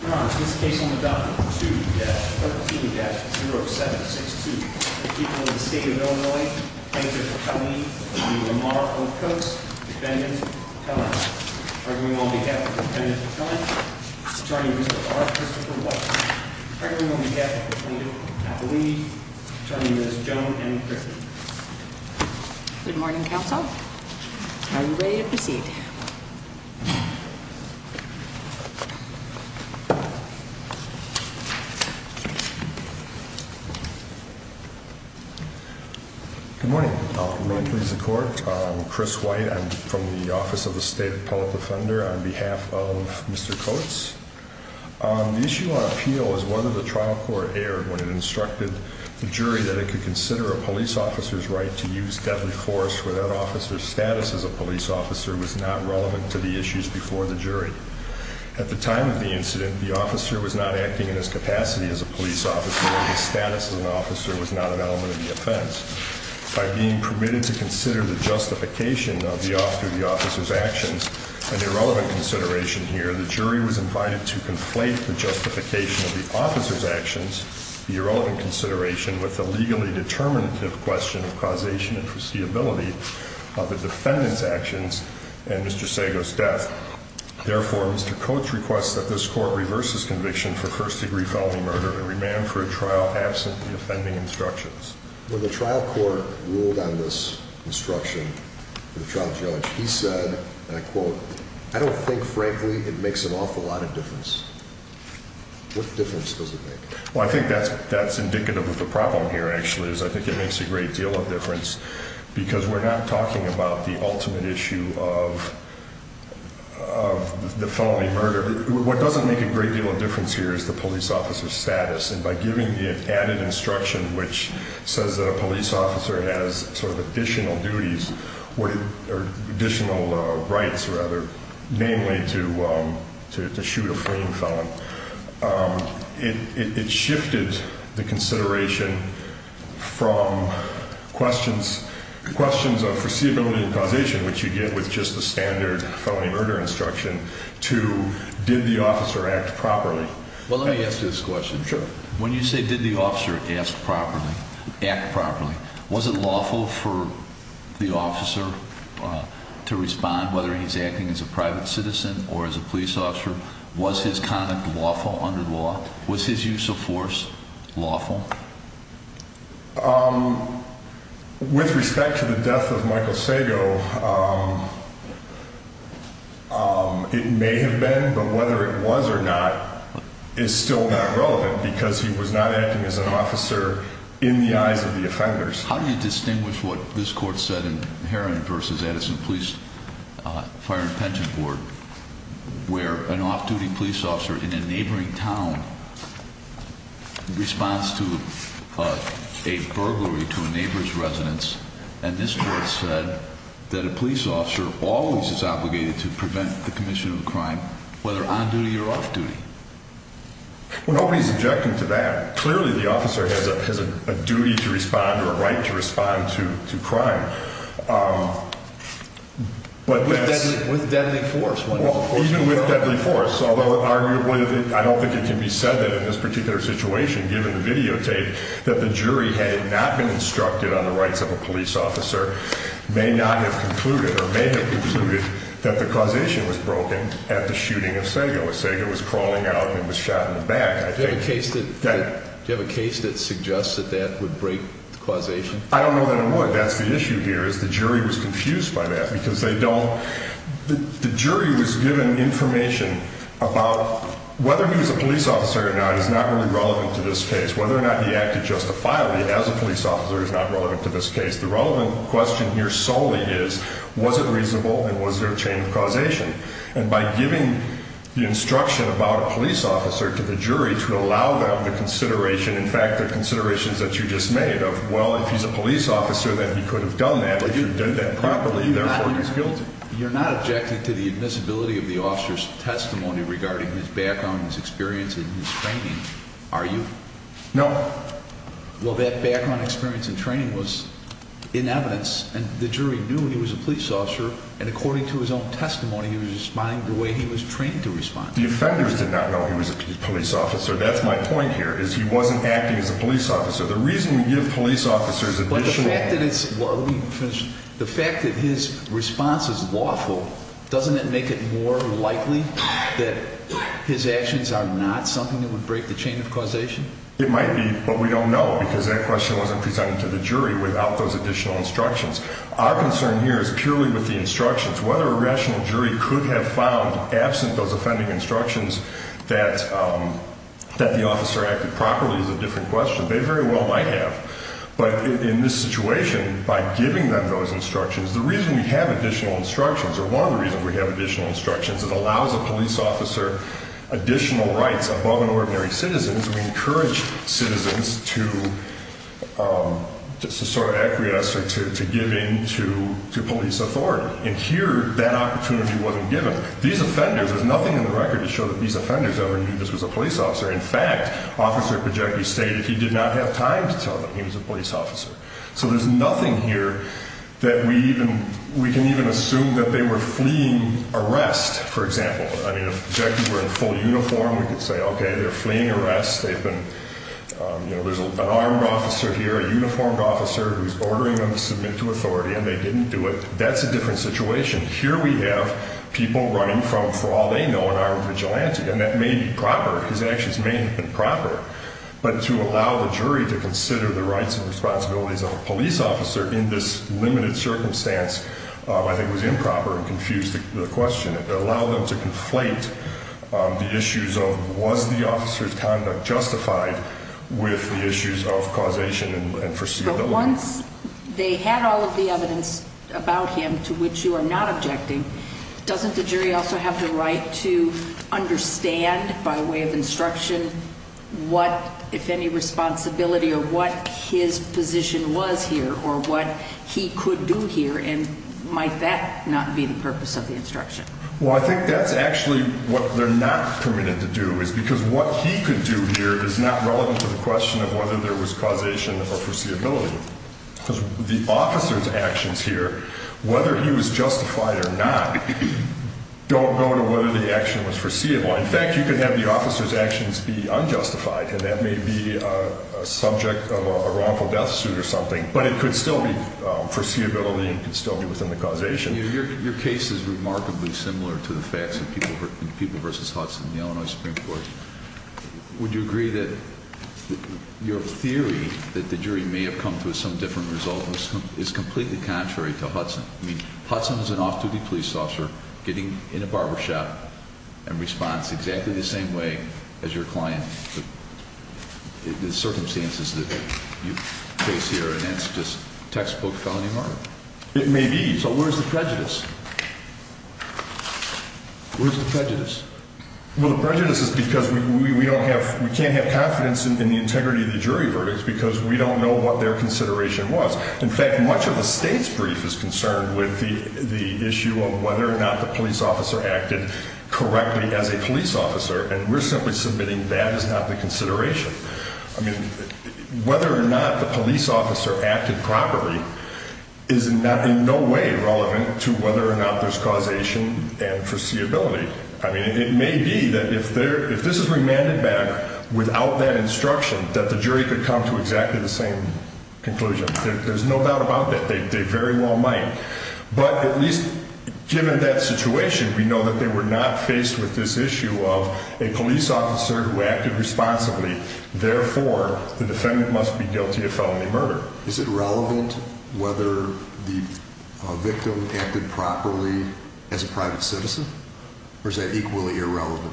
Good morning, counsel. Are you ready to proceed? Good morning. I'm Chris White. I'm from the Office of the State Appellate Defender on behalf of Mr. Coates. The issue on appeal is whether the trial court erred when it instructed the jury that it could consider a police officer's right to use deadly force where that officer's status as a police officer was not relevant to the issues before the jury. At the time of the incident, the officer was not acting in his capacity as a police officer and his status as an officer was not an element of the offense. By being permitted to consider the justification of the officer's actions, an irrelevant consideration here, the jury was invited to conflate the justification of the officer's actions, the irrelevant consideration, with the legally determinative question of causation and foreseeability of the defendant's actions and Mr. Sago's death. Therefore, Mr. Coates requests that this court reverses conviction for first-degree felony murder and remand for a trial absent the offending instructions. When the trial court ruled on this instruction, the trial judge, he said, and I quote, I don't think, frankly, it makes an awful lot of difference. What difference does it make? Well, I think that's indicative of the problem here, actually, is I think it makes a great deal of difference because we're not talking about the ultimate issue of the felony murder. What doesn't make a great deal of difference here is the police officer's status, and by giving the added instruction which says that a police officer has sort of additional duties or additional rights, rather, namely to shoot a fleeing felon, it shifted the consideration from questions of foreseeability and causation, which you get with just the standard felony murder instruction, to did the officer act properly? Well, let me ask this question. Sure. When you say did the officer act properly, was it lawful for the officer to respond, whether he's acting as a private citizen or as a police officer? Was his conduct lawful under the law? Was his use of force lawful? With respect to the death of Michael Sago, it may have been, but whether it was or not is still not relevant because he was not acting as an officer in the eyes of the offenders. How do you distinguish what this court said in Heron v. Edison Police Fire and Pension Board, where an off-duty police officer in a neighboring town responds to a burglary to a neighbor's residence, and this court said that a police officer always is obligated to prevent the commission of a crime, whether on duty or off duty? Well, nobody's objecting to that. Clearly, the officer has a duty to respond or a right to respond to crime. With deadly force. Well, even with deadly force, although arguably I don't think it can be said that in this particular situation, given the videotape, that the jury had not been instructed on the rights of a police officer may not have concluded or may have concluded that the causation was broken at the shooting of Sago, as Sago was crawling out and was shot in the back. Do you have a case that suggests that that would break causation? I don't know that it would. Well, that's the issue here is the jury was confused by that because they don't. The jury was given information about whether he was a police officer or not is not really relevant to this case, whether or not he acted justifiably as a police officer is not relevant to this case. The relevant question here solely is, was it reasonable and was there a chain of causation? And by giving the instruction about a police officer to the jury to allow them the consideration, in fact, the considerations that you just made of, well, if he's a police officer, then he could have done that. But you did that properly. Therefore, he's guilty. You're not objecting to the admissibility of the officer's testimony regarding his background, his experience and his training, are you? No. Well, that background experience and training was in evidence and the jury knew he was a police officer. And according to his own testimony, he was responding the way he was trained to respond. The offenders did not know he was a police officer. That's my point here is he wasn't acting as a police officer. The reason we give police officers additional. The fact that his response is lawful, doesn't it make it more likely that his actions are not something that would break the chain of causation? It might be, but we don't know because that question wasn't presented to the jury without those additional instructions. Our concern here is purely with the instructions. Whether a rational jury could have found, absent those offending instructions, that the officer acted properly is a different question. They very well might have. But in this situation, by giving them those instructions, the reason we have additional instructions or one of the reasons we have additional instructions is it allows a police officer additional rights above an ordinary citizen. We encourage citizens to just sort of acquiesce or to give in to police authority. And here, that opportunity wasn't given. These offenders, there's nothing in the record to show that these offenders ever knew this was a police officer. In fact, Officer Pejeki stated he did not have time to tell them he was a police officer. So there's nothing here that we even, we can even assume that they were fleeing arrest, for example. I mean, if Pejeki were in full uniform, we could say, okay, they're fleeing arrest. They've been, you know, there's an armed officer here, a uniformed officer who's ordering them to submit to authority, and they didn't do it. That's a different situation. Here we have people running from, for all they know, an armed vigilante. And that may be proper. His actions may have been proper. But to allow the jury to consider the rights and responsibilities of a police officer in this limited circumstance I think was improper and confused the question. It allowed them to conflate the issues of was the officer's conduct justified with the issues of causation and foreseeability. But once they had all of the evidence about him to which you are not objecting, doesn't the jury also have the right to understand by way of instruction what, if any, responsibility or what his position was here or what he could do here? And might that not be the purpose of the instruction? Well, I think that's actually what they're not permitted to do is because what he could do here is not relevant to the question of whether there was causation or foreseeability. Because the officer's actions here, whether he was justified or not, don't go to whether the action was foreseeable. In fact, you could have the officer's actions be unjustified, and that may be a subject of a wrongful death suit or something. But it could still be foreseeability. It could still be within the causation. Your case is remarkably similar to the facts in People v. Hudson, the Illinois Supreme Court. Would you agree that your theory that the jury may have come to some different result is completely contrary to Hudson? I mean, Hudson is an off-duty police officer getting in a barbershop and responds exactly the same way as your client. The circumstances that you face here, and it's just textbook felony murder. It may be. So where's the prejudice? Where's the prejudice? Well, the prejudice is because we can't have confidence in the integrity of the jury verdicts because we don't know what their consideration was. In fact, much of the state's brief is concerned with the issue of whether or not the police officer acted correctly as a police officer. And we're simply submitting that is not the consideration. I mean, whether or not the police officer acted properly is in no way relevant to whether or not there's causation and foreseeability. I mean, it may be that if this is remanded back without that instruction, that the jury could come to exactly the same conclusion. There's no doubt about that. They very well might. But at least given that situation, we know that they were not faced with this issue of a police officer who acted responsibly. Therefore, the defendant must be guilty of felony murder. Is it relevant whether the victim acted properly as a private citizen? Or is that equally irrelevant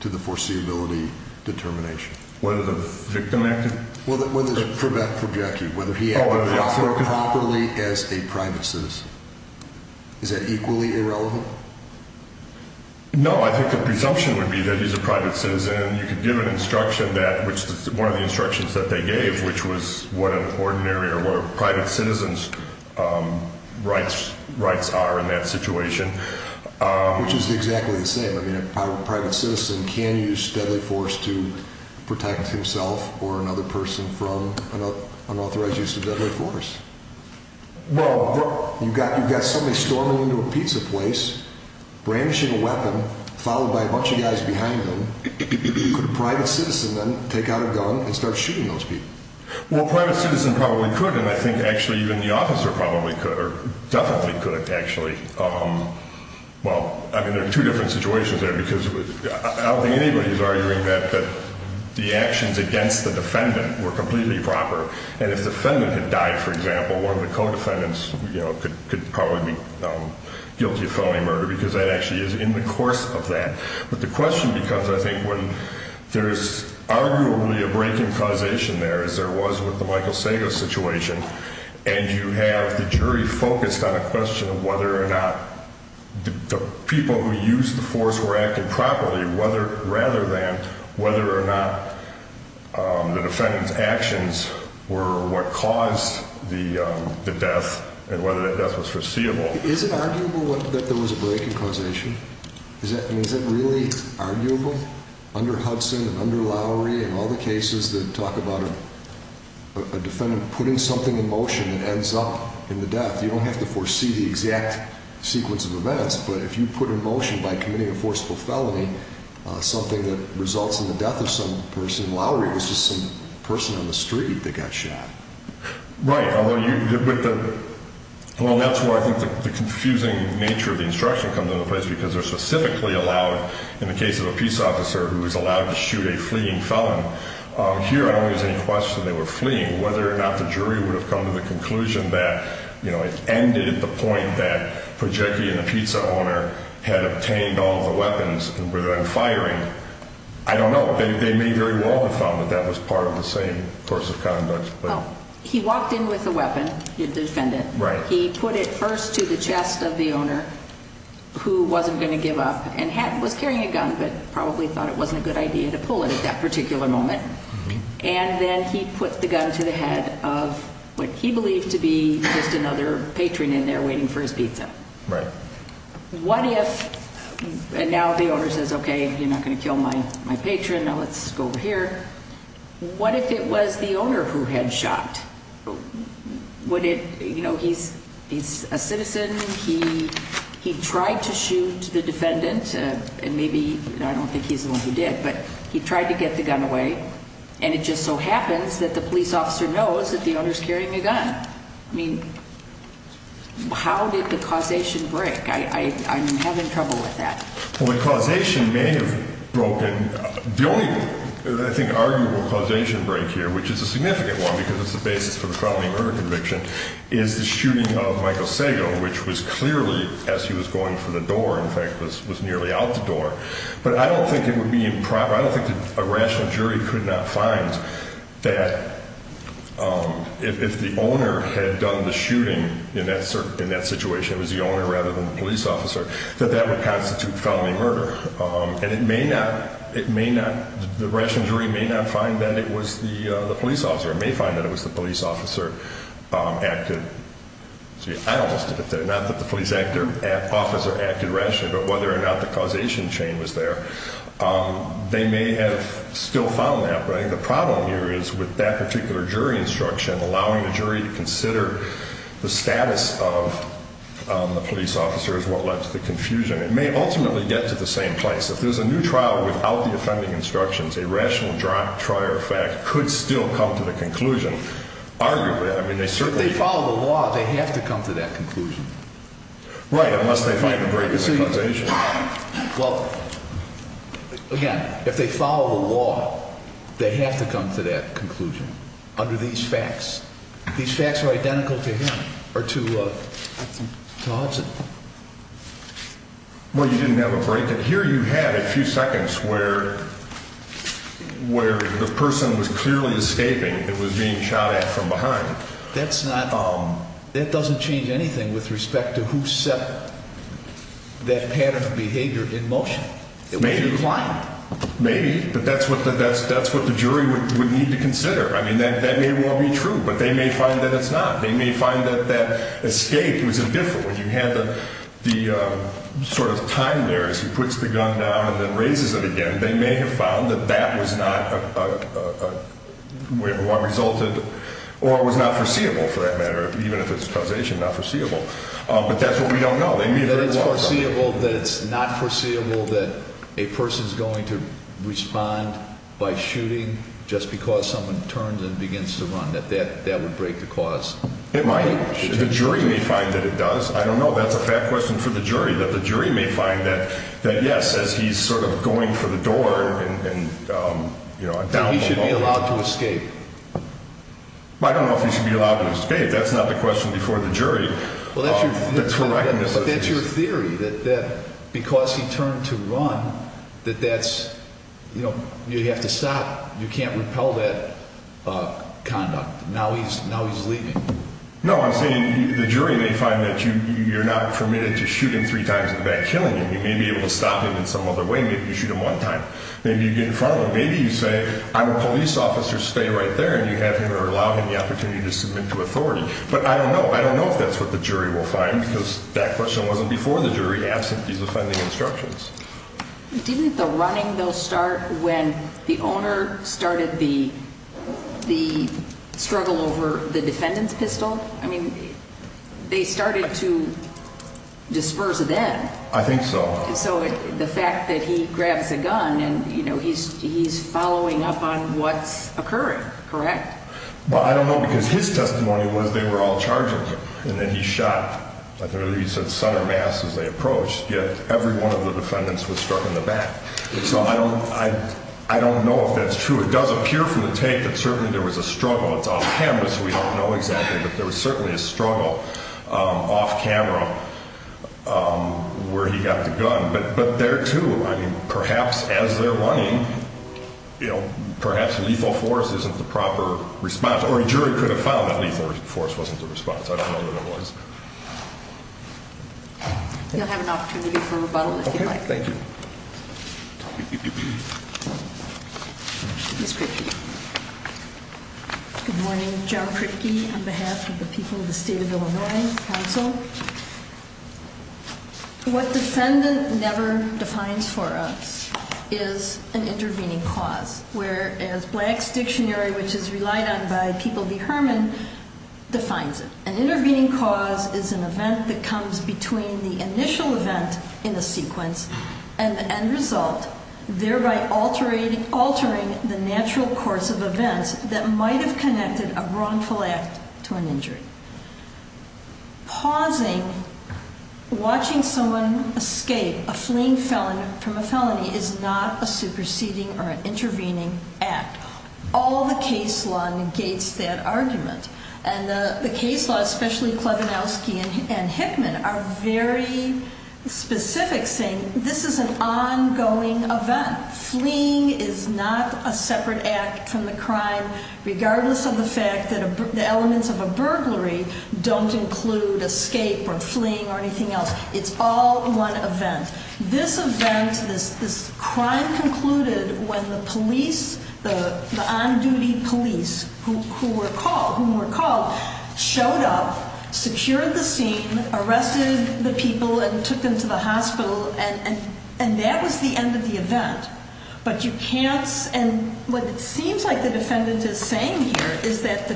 to the foreseeability determination? Whether the victim acted? For Jackie, whether he acted properly as a private citizen. Is that equally irrelevant? No, I think the presumption would be that he's a private citizen. You could give an instruction that which one of the instructions that they gave, which was what an ordinary or private citizens rights rights are in that situation. Which is exactly the same. I mean, a private citizen can use deadly force to protect himself or another person from an unauthorized use of deadly force. Well, you've got somebody storming into a pizza place, brandishing a weapon, followed by a bunch of guys behind him. Could a private citizen then take out a gun and start shooting those people? Well, a private citizen probably could. And I think actually even the officer probably could or definitely could actually. Well, I mean, there are two different situations there because I don't think anybody is arguing that the actions against the defendant were completely proper. And if the defendant had died, for example, one of the co-defendants could probably be guilty of felony murder because that actually is in the course of that. But the question becomes, I think, when there is arguably a breaking causation there, as there was with the Michael Sago situation. And you have the jury focused on a question of whether or not the people who used the force were acting properly, whether rather than whether or not the defendant's actions were what caused the death and whether that death was foreseeable. Is it arguable that there was a breaking causation? Is that really arguable? Under Hudson and under Lowry and all the cases that talk about a defendant putting something in motion that ends up in the death, you don't have to foresee the exact sequence of events. But if you put in motion by committing a forcible felony something that results in the death of some person, Lowry was just some person on the street that got shot. Right. Well, that's where I think the confusing nature of the instruction comes into play, because they're specifically allowed in the case of a peace officer who is allowed to shoot a fleeing felon. Here, I don't think there's any question they were fleeing. Whether or not the jury would have come to the conclusion that it ended at the point that Prochecki and the pizza owner had obtained all the weapons and were then firing, I don't know. They may very well have found that that was part of the same course of conduct. He walked in with a weapon, the defendant. Right. He put it first to the chest of the owner who wasn't going to give up and was carrying a gun but probably thought it wasn't a good idea to pull it at that particular moment. And then he put the gun to the head of what he believed to be just another patron in there waiting for his pizza. Right. What if, and now the owner says, okay, you're not going to kill my patron, now let's go over here. What if it was the owner who had shot? Would it, you know, he's a citizen, he tried to shoot the defendant, and maybe, I don't think he's the one who did, but he tried to get the gun away. And it just so happens that the police officer knows that the owner's carrying a gun. I mean, how did the causation break? I'm having trouble with that. Well, the causation may have broken. The only, I think, arguable causation break here, which is a significant one because it's the basis for the felony murder conviction, is the shooting of Michael Sago, which was clearly, as he was going for the door, in fact, was nearly out the door. But I don't think it would be improper, I don't think a rational jury could not find that if the owner had done the shooting in that situation, it was the owner rather than the police officer, that that would constitute felony murder. And it may not, it may not, the rational jury may not find that it was the police officer. It may find that it was the police officer acted, gee, I almost did it there, not that the police officer acted rationally, but whether or not the causation chain was there. They may have still found that. But I think the problem here is with that particular jury instruction, allowing the jury to consider the status of the police officer is what led to the confusion. It may ultimately get to the same place. If there's a new trial without the offending instructions, a rational trial fact could still come to the conclusion. Arguably, I mean, they certainly follow the law. They have to come to that conclusion. Right. Unless they find a break in the causation. Well, again, if they follow the law, they have to come to that conclusion under these facts. These facts are identical to him or to Hudson. Well, you didn't have a break in here. You had a few seconds where where the person was clearly escaping. It was being shot at from behind. That's not that doesn't change anything with respect to who set that pattern of behavior in motion. It may be fine, maybe. But that's what the that's that's what the jury would need to consider. I mean, that may well be true, but they may find that it's not. They may find that that escape was a different when you had the sort of time there as he puts the gun down and then raises it again. They may have found that that was not what resulted or was not foreseeable for that matter. Even if it's causation, not foreseeable. But that's what we don't know. It's foreseeable that it's not foreseeable that a person is going to respond by shooting just because someone turns and begins to run that that that would break the cause. It might. The jury may find that it does. I don't know. That's a fair question for the jury, that the jury may find that that, yes, as he's sort of going for the door and, you know, he should be allowed to escape. I don't know if he should be allowed to escape. That's not the question before the jury. But that's your theory, that because he turned to run, that that's, you know, you have to stop. You can't repel that conduct. Now he's now he's leaving. No, I'm saying the jury may find that you're not permitted to shoot him three times in the back, killing him. You may be able to stop him in some other way. Maybe you shoot him one time. Maybe you get in front of him. Maybe you say, I'm a police officer. Stay right there. And you have him or allow him the opportunity to submit to authority. But I don't know. I don't know if that's what the jury will find, because that question wasn't before the jury asked if he was finding instructions. Didn't the running, though, start when the owner started the the struggle over the defendant's pistol? I mean, they started to disperse then. I think so. So the fact that he grabs a gun and, you know, he's he's following up on what's occurring. Correct. Well, I don't know, because his testimony was they were all charging. And then he shot, like I said, center mass as they approached. Yet every one of the defendants was struck in the back. So I don't I don't know if that's true. It does appear from the tape that certainly there was a struggle. It's off camera, so we don't know exactly. But there was certainly a struggle off camera where he got the gun. But there, too, I mean, perhaps as they're running, you know, perhaps lethal force isn't the proper response. Or a jury could have found that lethal force wasn't the response. I don't know that it was. You'll have an opportunity for rebuttal. Thank you. Good morning. On behalf of the people of the State of Illinois Council. What defendant never defines for us is an intervening cause. Whereas Black's Dictionary, which is relied on by People v. Herman, defines it. An intervening cause is an event that comes between the initial event in the sequence and the end result, thereby altering the natural course of events that might have connected a wrongful act to an injury. Pausing, watching someone escape a fleeing felon from a felony is not a superseding or an intervening act. All the case law negates that argument. And the case law, especially Klevenowski and Hickman, are very specific, saying this is an ongoing event. Fleeing is not a separate act from the crime, regardless of the fact that the elements of a burglary don't include escape or fleeing or anything else. It's all one event. This event, this crime concluded when the police, the on-duty police who were called, showed up, secured the scene, arrested the people and took them to the hospital. And that was the end of the event. But you can't, and what it seems like the defendant is saying here is that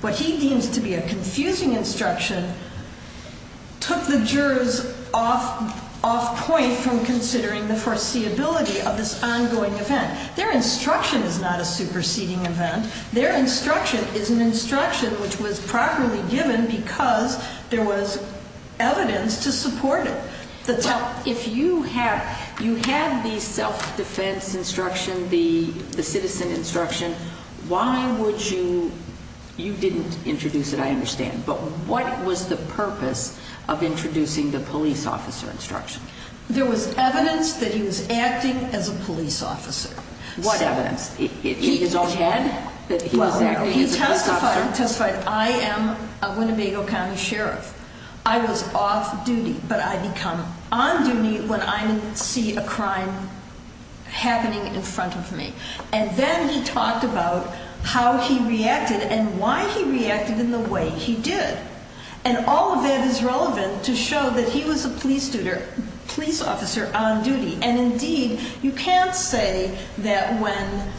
what he deems to be a confusing instruction took the jurors off point from considering the foreseeability of this ongoing event. Their instruction is not a superseding event. Their instruction is an instruction which was properly given because there was evidence to support it. If you had the self-defense instruction, the citizen instruction, why would you, you didn't introduce it I understand, but what was the purpose of introducing the police officer instruction? There was evidence that he was acting as a police officer. What evidence? In his own head? He testified, I am a Winnebago County Sheriff. I was off-duty but I become on-duty when I see a crime happening in front of me. And then he talked about how he reacted and why he reacted in the way he did. And all of that is relevant to show that he was a police officer on-duty. And indeed, you can't say that when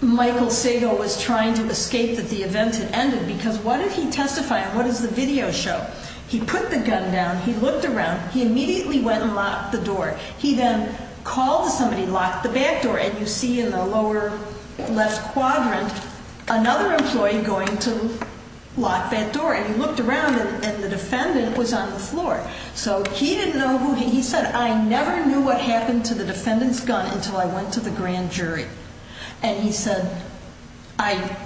Michael Sago was trying to escape that the event had ended because what did he testify and what does the video show? He put the gun down. He looked around. He immediately went and locked the door. He then called somebody, locked the back door, and you see in the lower left quadrant another employee going to lock that door. He said, I never knew what happened to the defendant's gun until I went to the grand jury. And he said, I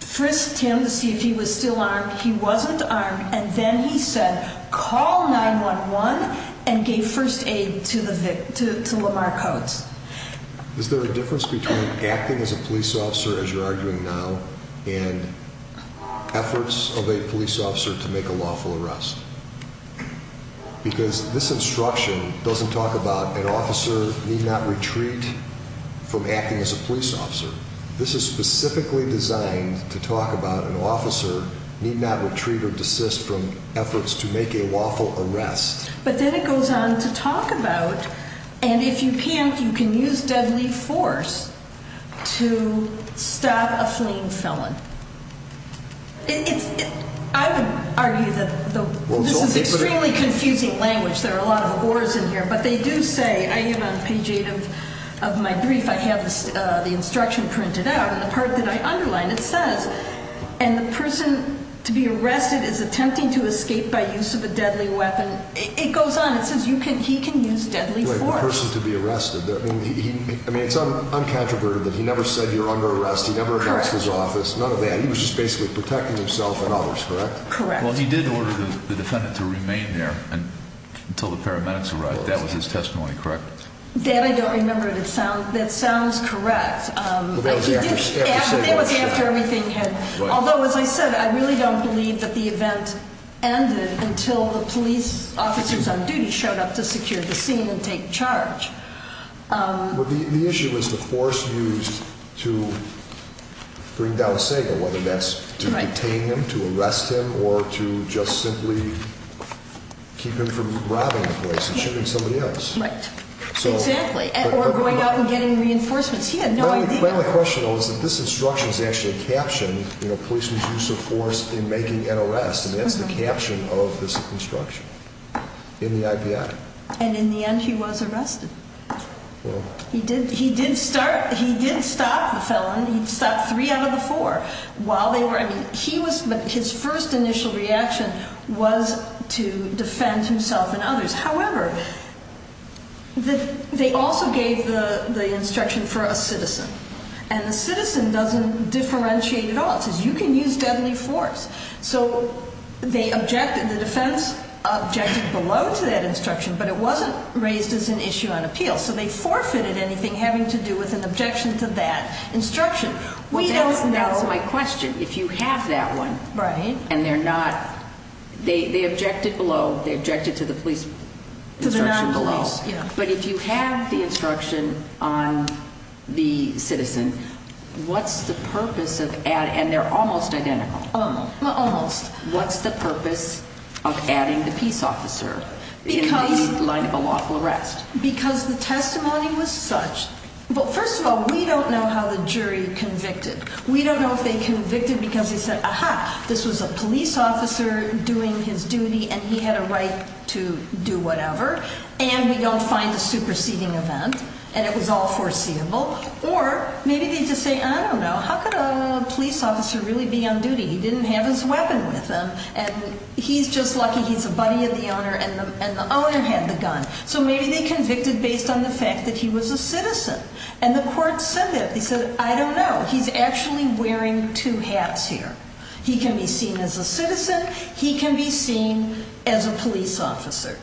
frisked him to see if he was still armed. He wasn't armed. And then he said, call 911 and gave first aid to Lamar Coates. Is there a difference between acting as a police officer as you're arguing now and efforts of a police officer to make a lawful arrest? Because this instruction doesn't talk about an officer need not retreat from acting as a police officer. This is specifically designed to talk about an officer need not retreat or desist from efforts to make a lawful arrest. But then it goes on to talk about, and if you can't, you can use deadly force to stop a fleeing felon. I would argue that this is extremely confusing language. There are a lot of wars in here. But they do say, I am on page eight of my brief. I have the instruction printed out. And the part that I underline, it says, and the person to be arrested is attempting to escape by use of a deadly weapon. It goes on. It says he can use deadly force. The person to be arrested. I mean, it's uncontroverted that he never said you're under arrest. He never announced his office. None of that. He was just basically protecting himself and others, correct? Correct. Well, he did order the defendant to remain there until the paramedics arrived. That was his testimony, correct? That I don't remember. That sounds correct. But that was after everything had, although, as I said, I really don't believe that the event ended until the police officers on duty showed up to secure the scene and take charge. Well, the issue was the force used to bring down Sago, whether that's to detain him, to arrest him, or to just simply keep him from robbing a place and shooting somebody else. Right. Exactly. Or going out and getting reinforcements. He had no idea. Well, the question was that this instruction is actually a caption, you know, policeman's use of force in making an arrest. And that's the caption of this instruction in the FBI. And in the end he was arrested. He did stop the felon. He stopped three out of the four. While they were, I mean, he was, his first initial reaction was to defend himself and others. However, they also gave the instruction for a citizen. And the citizen doesn't differentiate at all. It says you can use deadly force. So they objected, the defense objected below to that instruction, but it wasn't raised as an issue on appeal. So they forfeited anything having to do with an objection to that instruction. We don't know. That's my question. If you have that one. Right. And they're not, they objected below, they objected to the police instruction below. But if you have the instruction on the citizen, what's the purpose of, and they're almost identical. Almost. What's the purpose of adding the peace officer in the line of lawful arrest? Because the testimony was such, well, first of all, we don't know how the jury convicted. We don't know if they convicted because they said, aha, this was a police officer doing his duty and he had a right to do whatever. And we don't find a superseding event. And it was all foreseeable. Or maybe they just say, I don't know, how could a police officer really be on duty? He didn't have his weapon with him. And he's just lucky he's a buddy of the owner and the owner had the gun. So maybe they convicted based on the fact that he was a citizen. And the court said that. They said, I don't know. He's actually wearing two hats here. He can be seen as a citizen. He can be seen as a police officer.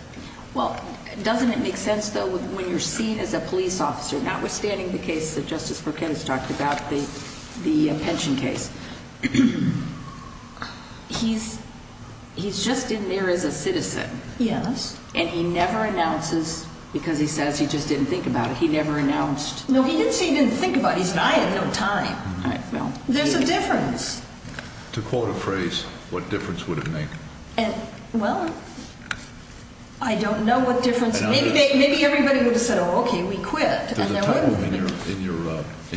Well, doesn't it make sense, though, when you're seen as a police officer, notwithstanding the case that Justice Burkett has talked about, the pension case, he's just in there as a citizen. Yes. And he never announces because he says he just didn't think about it. He never announced. No, he didn't say he didn't think about it. He said, I had no time. There's a difference. To quote a phrase, what difference would it make? Well, I don't know what difference. Maybe everybody would have said, oh, OK, we quit. In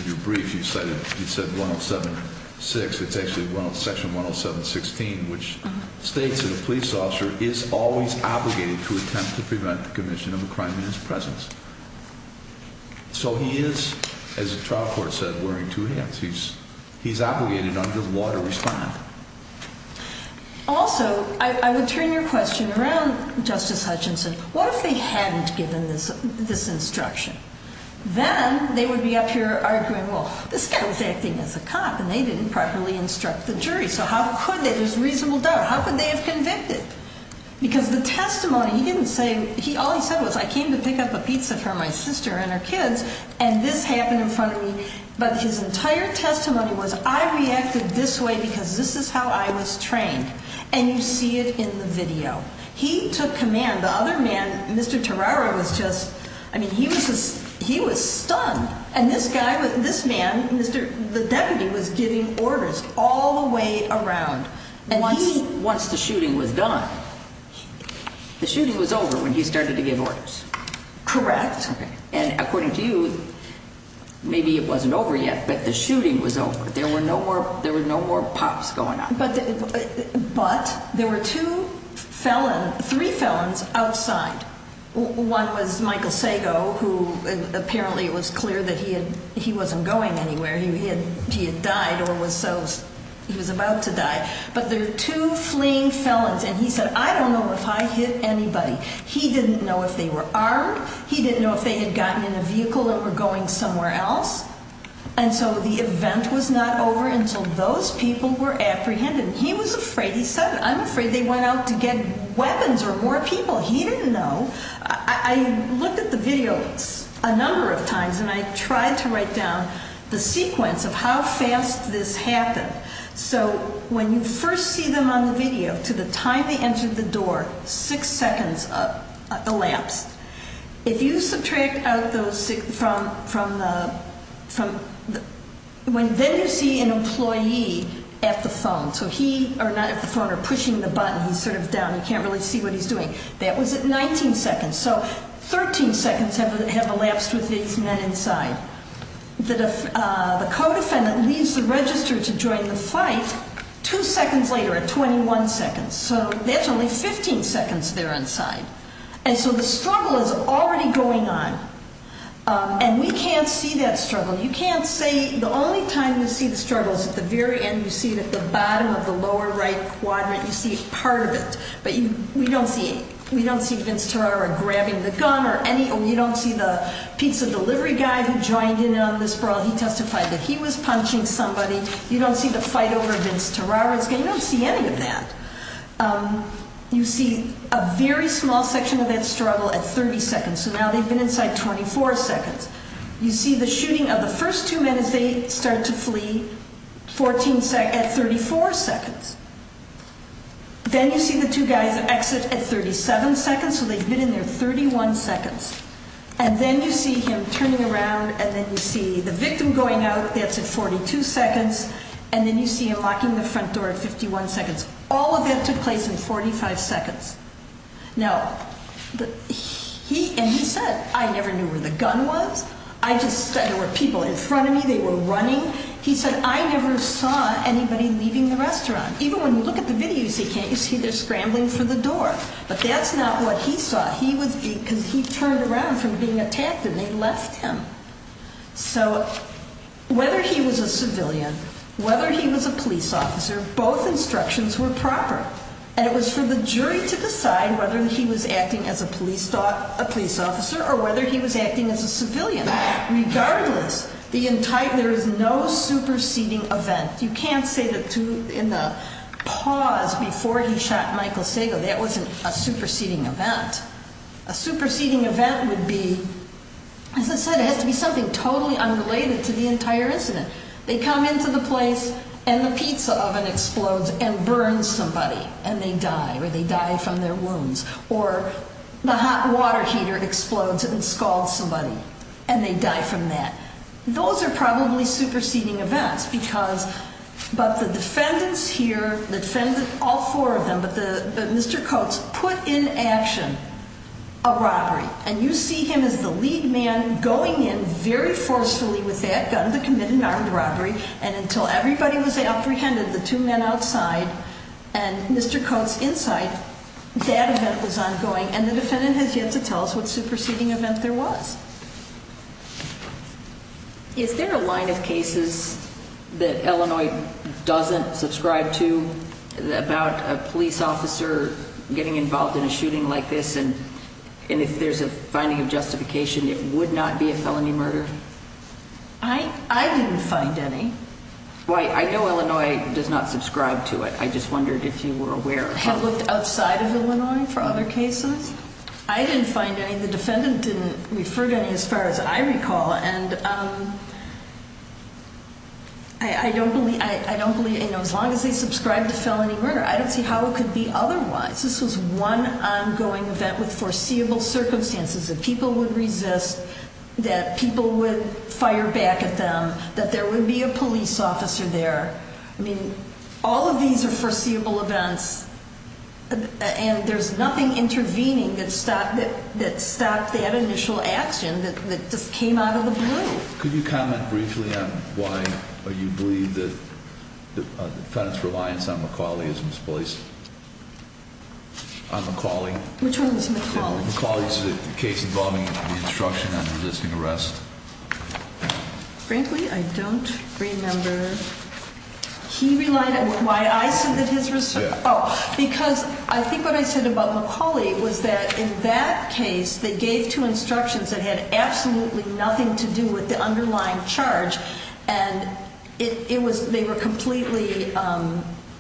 your brief, you said 107-6. It's actually Section 107-16, which states that a police officer is always obligated to attempt to prevent the commission of a crime in his presence. So he is, as a trial court said, wearing two hats. He's obligated under the law to respond. Also, I would turn your question around, Justice Hutchinson. What if they hadn't given this instruction? Then they would be up here arguing, well, this guy was acting as a cop, and they didn't properly instruct the jury. So how could they? There's reasonable doubt. How could they have convicted? Because the testimony, he didn't say, all he said was, I came to pick up a pizza for my sister and her kids, and this happened in front of me. But his entire testimony was, I reacted this way because this is how I was trained. And you see it in the video. He took command. The other man, Mr. Terrara, was just, I mean, he was stunned. And this man, the deputy, was giving orders all the way around. Once the shooting was done, the shooting was over when he started to give orders. Correct. And according to you, maybe it wasn't over yet, but the shooting was over. There were no more pops going on. But there were two felons, three felons outside. One was Michael Sago, who apparently it was clear that he wasn't going anywhere. He had died or was about to die. But there were two fleeing felons, and he said, I don't know if I hit anybody. He didn't know if they were armed. He didn't know if they had gotten in a vehicle or were going somewhere else. And so the event was not over until those people were apprehended. He was afraid. He said, I'm afraid they went out to get weapons or more people. He didn't know. I looked at the video a number of times, and I tried to write down the sequence of how fast this happened. So when you first see them on the video, to the time they entered the door, six seconds elapsed. If you subtract out those from the ‑‑ then you see an employee at the phone. So he ‑‑ or not at the phone, or pushing the button. He's sort of down. You can't really see what he's doing. That was at 19 seconds. So 13 seconds have elapsed with these men inside. The co‑defendant leaves the register to join the fight two seconds later at 21 seconds. So that's only 15 seconds they're inside. And so the struggle is already going on. And we can't see that struggle. You can't see ‑‑ the only time you see the struggle is at the very end. You see it at the bottom of the lower right quadrant. You see part of it. But we don't see Vince Terrara grabbing the gun or any ‑‑ you don't see the pizza delivery guy who joined in on this brawl. He testified that he was punching somebody. You don't see the fight over Vince Terrara's gun. You don't see any of that. You see a very small section of that struggle at 30 seconds. So now they've been inside 24 seconds. You see the shooting of the first two men as they start to flee at 34 seconds. Then you see the two guys exit at 37 seconds. So they've been in there 31 seconds. And then you see him turning around and then you see the victim going out. That's at 42 seconds. And then you see him locking the front door at 51 seconds. All of that took place in 45 seconds. Now, he ‑‑ and he said, I never knew where the gun was. I just ‑‑ there were people in front of me. They were running. He said, I never saw anybody leaving the restaurant. Even when you look at the videos, you can't see they're scrambling for the door. But that's not what he saw. He was being ‑‑ because he turned around from being attacked and they left him. So whether he was a civilian, whether he was a police officer, both instructions were proper. And it was for the jury to decide whether he was acting as a police officer or whether he was acting as a civilian. Regardless, the entire ‑‑ there is no superseding event. You can't say that in the pause before he shot Michael Sago, that wasn't a superseding event. A superseding event would be, as I said, it has to be something totally unrelated to the entire incident. They come into the place and the pizza oven explodes and burns somebody. And they die, or they die from their wounds. Or the hot water heater explodes and scalds somebody. And they die from that. Those are probably superseding events because ‑‑ but the defendants here, the defendants, all four of them, but Mr. Coates put in action a robbery. And you see him as the lead man going in very forcefully with that gun to commit an armed robbery. And until everybody was apprehended, the two men outside and Mr. Coates inside, that event was ongoing. And the defendant has yet to tell us what superseding event there was. Is there a line of cases that Illinois doesn't subscribe to about a police officer getting involved in a shooting like this? And if there's a finding of justification, it would not be a felony murder? I didn't find any. I know Illinois does not subscribe to it. I just wondered if you were aware. Have looked outside of Illinois for other cases? I didn't find any. The defendant didn't refer to any as far as I recall. And I don't believe, you know, as long as they subscribe to felony murder, I don't see how it could be otherwise. This was one ongoing event with foreseeable circumstances, that people would resist, that people would fire back at them, that there would be a police officer there. I mean, all of these are foreseeable events, and there's nothing intervening that stopped that initial action that just came out of the blue. Could you comment briefly on why you believe that the defendant's reliance on McAuley is misplaced? On McAuley? Which one was McAuley? McAuley's case involving the instruction on resisting arrest. Frankly, I don't remember. He relied on why I said that his resistance. Yeah. Oh, because I think what I said about McAuley was that in that case, they gave two instructions that had absolutely nothing to do with the underlying charge, and they were completely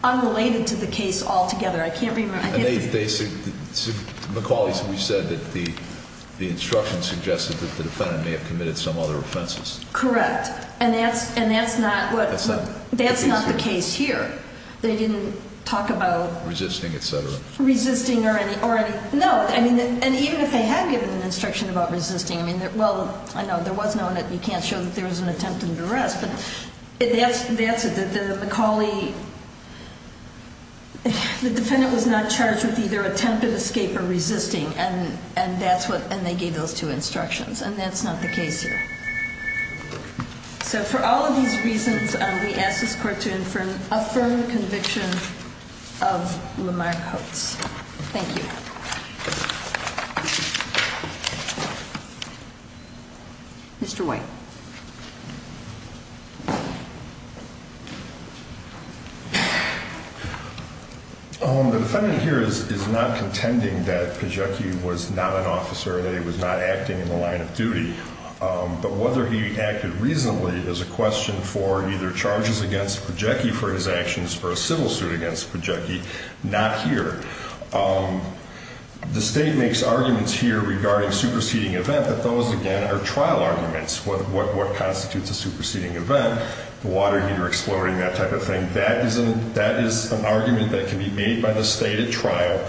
unrelated to the case altogether. I can't remember. McAuley said that the instruction suggested that the defendant may have committed some other offenses. Correct, and that's not the case here. They didn't talk about resisting or anything. No, and even if they had given an instruction about resisting, well, I know there was no one that you can't show that there was an attempt under arrest, but that's it. The defendant was not charged with either attempted escape or resisting, and they gave those two instructions, and that's not the case here. So for all of these reasons, we ask this court to affirm the conviction of Lamar Coates. Thank you. Mr. White. The defendant here is not contending that Kajiki was not an officer, that he was not acting in the line of duty. But whether he acted reasonably is a question for either charges against Kajiki for his actions or a civil suit against Kajiki, not here. The state makes arguments here regarding superseding event, but those, again, are trial arguments, what constitutes a superseding event, the water heater exploding, that type of thing. That is an argument that can be made by the state at trial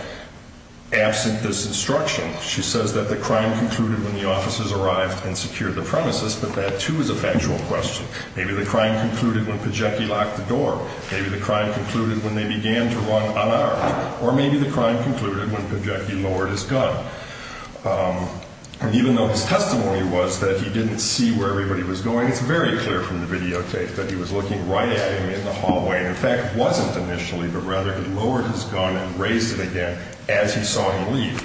absent this instruction. She says that the crime concluded when the officers arrived and secured the premises, but that, too, is a factual question. Maybe the crime concluded when Kajiki locked the door. Maybe the crime concluded when they began to run unarmed. Or maybe the crime concluded when Kajiki lowered his gun. And even though his testimony was that he didn't see where everybody was going, it's very clear from the videotape that he was looking right at him in the hallway, and, in fact, wasn't initially, but rather he lowered his gun and raised it again as he saw him leave.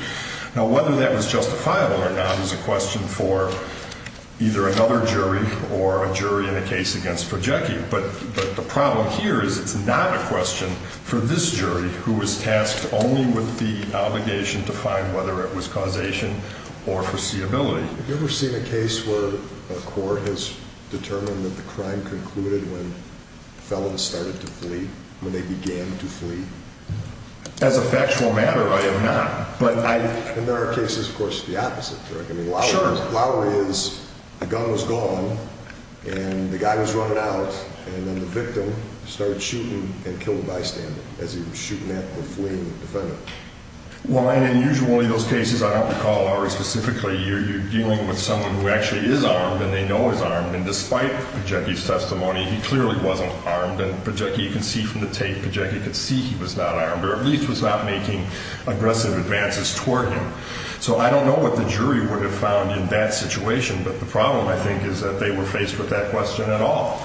Now, whether that was justifiable or not is a question for either another jury or a jury in a case against Kajiki, but the problem here is it's not a question for this jury, who is tasked only with the obligation to find whether it was causation or foreseeability. Have you ever seen a case where a court has determined that the crime As a factual matter, I have not. And there are cases, of course, the opposite. Sure. I mean, Lowry is, the gun was gone, and the guy was running out, and then the victim started shooting and killed the bystander as he was shooting at the fleeing defendant. Well, and usually those cases, I don't recall, are specifically you're dealing with someone who actually is armed and they know he's armed, and despite Kajiki's testimony, he clearly wasn't armed, and Kajiki can see from the tape, Kajiki could see he was not armed or at least was not making aggressive advances toward him. So I don't know what the jury would have found in that situation, but the problem, I think, is that they were faced with that question at all.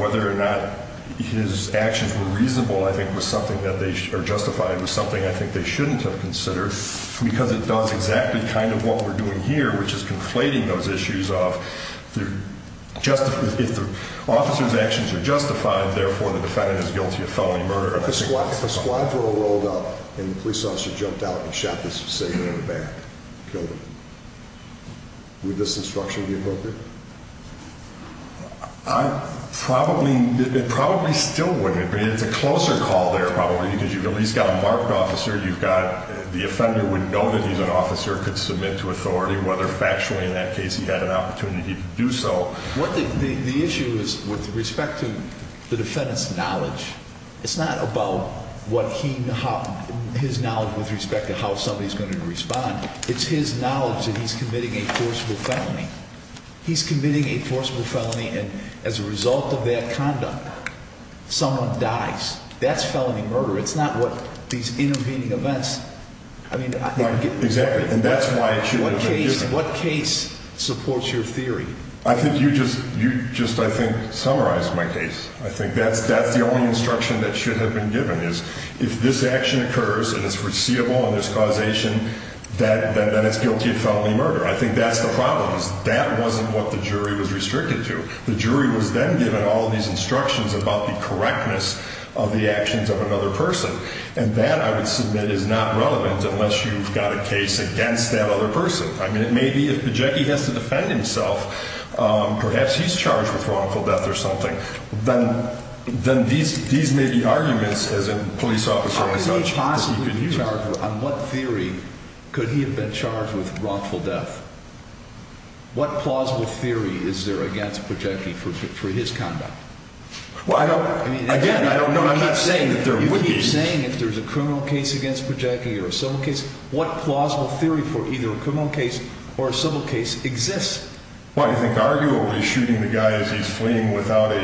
Whether or not his actions were reasonable, I think, was something that they, or justified, was something I think they shouldn't have considered because it does exactly kind of what we're doing here, which is conflating those issues of if the officer's actions are justified, therefore the defendant is guilty of felony murder. If a squad troll rolled up and the police officer jumped out and shot this civilian in the back, killed him, would this instruction be appropriate? Probably still wouldn't. It's a closer call there probably because you've at least got a marked officer. You've got the offender wouldn't know that he's an officer, could submit to authority whether factually in that case he had an opportunity to do so. The issue is with respect to the defendant's knowledge. It's not about his knowledge with respect to how somebody's going to respond. It's his knowledge that he's committing a forcible felony. He's committing a forcible felony, and as a result of that conduct, someone dies. That's felony murder. It's not what these intervening events. Exactly, and that's why it shouldn't have been given. What case supports your theory? I think you just, I think, summarized my case. I think that's the only instruction that should have been given is if this action occurs and it's foreseeable and there's causation, then it's guilty of felony murder. I think that's the problem is that wasn't what the jury was restricted to. The jury was then given all these instructions about the correctness of the actions of another person, and that, I would submit, is not relevant unless you've got a case against that other person. I mean, it may be if Pajecki has to defend himself, perhaps he's charged with wrongful death or something. Then these may be arguments, as a police officer or judge could use. How could he possibly be charged? On what theory could he have been charged with wrongful death? What plausible theory is there against Pajecki for his conduct? Well, I don't, again, I don't know. I'm not saying that there would be. You keep saying if there's a criminal case against Pajecki or a civil case, what plausible theory for either a criminal case or a civil case exists? Well, I think arguably shooting the guy as he's fleeing without a,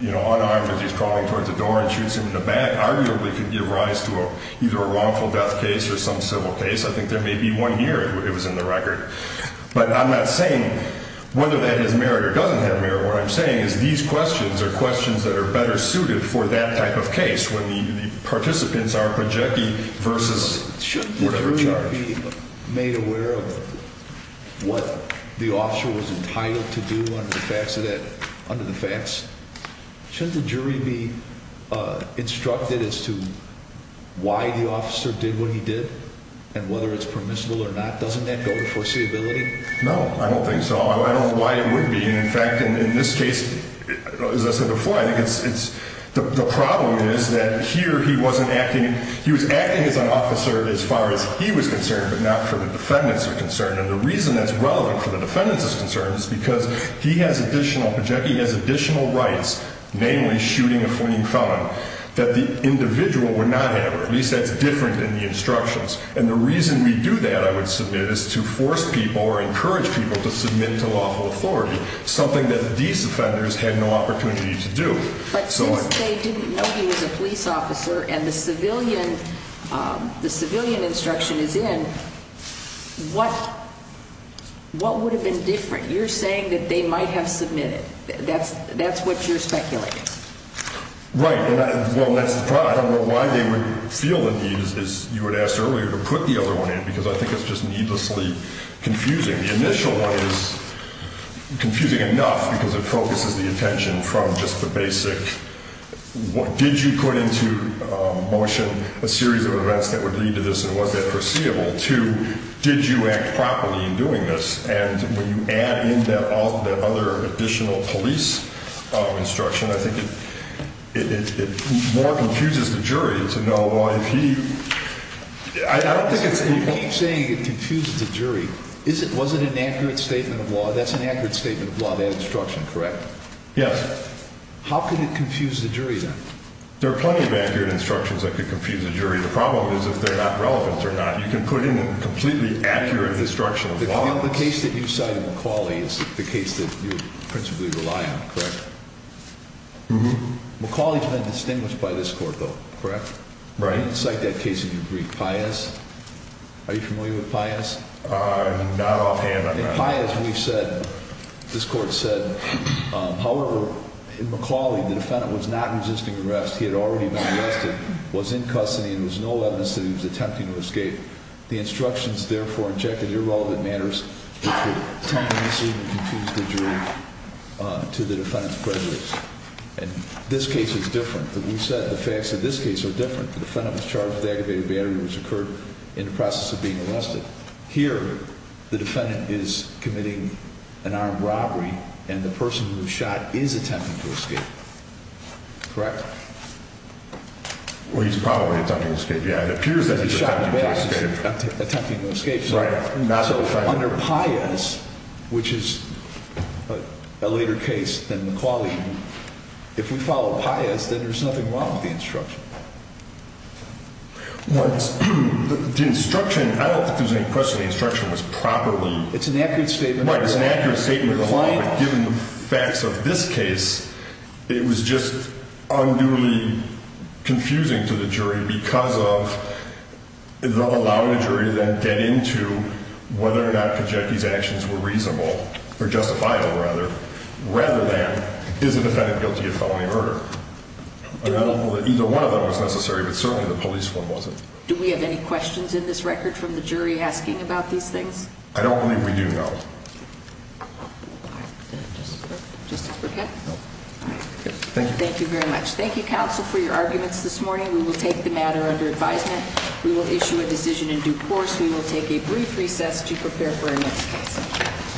you know, unarmed as he's crawling towards the door and shoots him in the back arguably could give rise to either a wrongful death case or some civil case. I think there may be one here. It was in the record. But I'm not saying whether that is merit or doesn't have merit. What I'm saying is these questions are questions that are better suited for that type of case when the participants are Pajecki versus whatever charge. Shouldn't the jury be made aware of what the officer was entitled to do under the facts? Shouldn't the jury be instructed as to why the officer did what he did and whether it's permissible or not? Doesn't that go with foreseeability? No, I don't think so. I don't know why it would be. And, in fact, in this case, as I said before, I think it's the problem is that here he wasn't acting. He was acting as an officer as far as he was concerned but not for the defendant's concern. And the reason that's relevant for the defendant's concern is because he has additional Pajecki, he has additional rights, namely shooting a fleeing felon, that the individual would not have, and the reason we do that, I would submit, is to force people or encourage people to submit to lawful authority, something that these offenders had no opportunity to do. But since they didn't know he was a police officer and the civilian instruction is in, what would have been different? You're saying that they might have submitted. That's what you're speculating. Right. Well, that's the problem. I don't know why they would feel the need, as you had asked earlier, to put the other one in, because I think it's just needlessly confusing. The initial one is confusing enough because it focuses the attention from just the basic what did you put into motion, a series of events that would lead to this and was that foreseeable, to did you act properly in doing this. And when you add in that other additional police instruction, I think it more confuses the jury to know if he – I don't think it's – you keep saying it confuses the jury. Was it an accurate statement of law? That's an accurate statement of law, that instruction, correct? Yes. How could it confuse the jury then? There are plenty of accurate instructions that could confuse the jury. The problem is if they're not relevant or not. You can put in a completely accurate instruction of law. The case that you cite in McAuley is the case that you principally rely on, correct? Mm-hmm. McAuley's been distinguished by this court, though, correct? Right. You cite that case in your brief, Pius. Are you familiar with Pius? Not offhand, I'm not. In Pius, we've said – this court said, however, in McAuley, the defendant was not resisting arrest. He had already been arrested, was in custody, and there was no evidence that he was attempting to escape. The instructions, therefore, injected irrelevant matters that could tempt the mystery and confuse the jury to the defendant's prejudice. And this case is different. We've said the facts of this case are different. The defendant was charged with aggravated battery, which occurred in the process of being arrested. Here, the defendant is committing an armed robbery, and the person who was shot is attempting to escape, correct? Well, he's probably attempting to escape, yeah. It appears that he's attempting to escape. Attempting to escape. Right. So under Pius, which is a later case than McAuley, if we follow Pius, then there's nothing wrong with the instruction. Well, the instruction – I don't think there's any question the instruction was properly – It's an accurate statement. Right, it's an accurate statement, but given the facts of this case, it was just unduly confusing to the jury because of allowing the jury to then get into whether or not Kajeki's actions were reasonable – or justifiable, rather – rather than, is the defendant guilty of felony murder? Either one of them was necessary, but certainly the police one wasn't. Do we have any questions in this record from the jury asking about these things? I don't believe we do, no. Thank you very much. Thank you, counsel, for your arguments this morning. We will take the matter under advisement. We will issue a decision in due course. We will take a brief recess to prepare for our next case.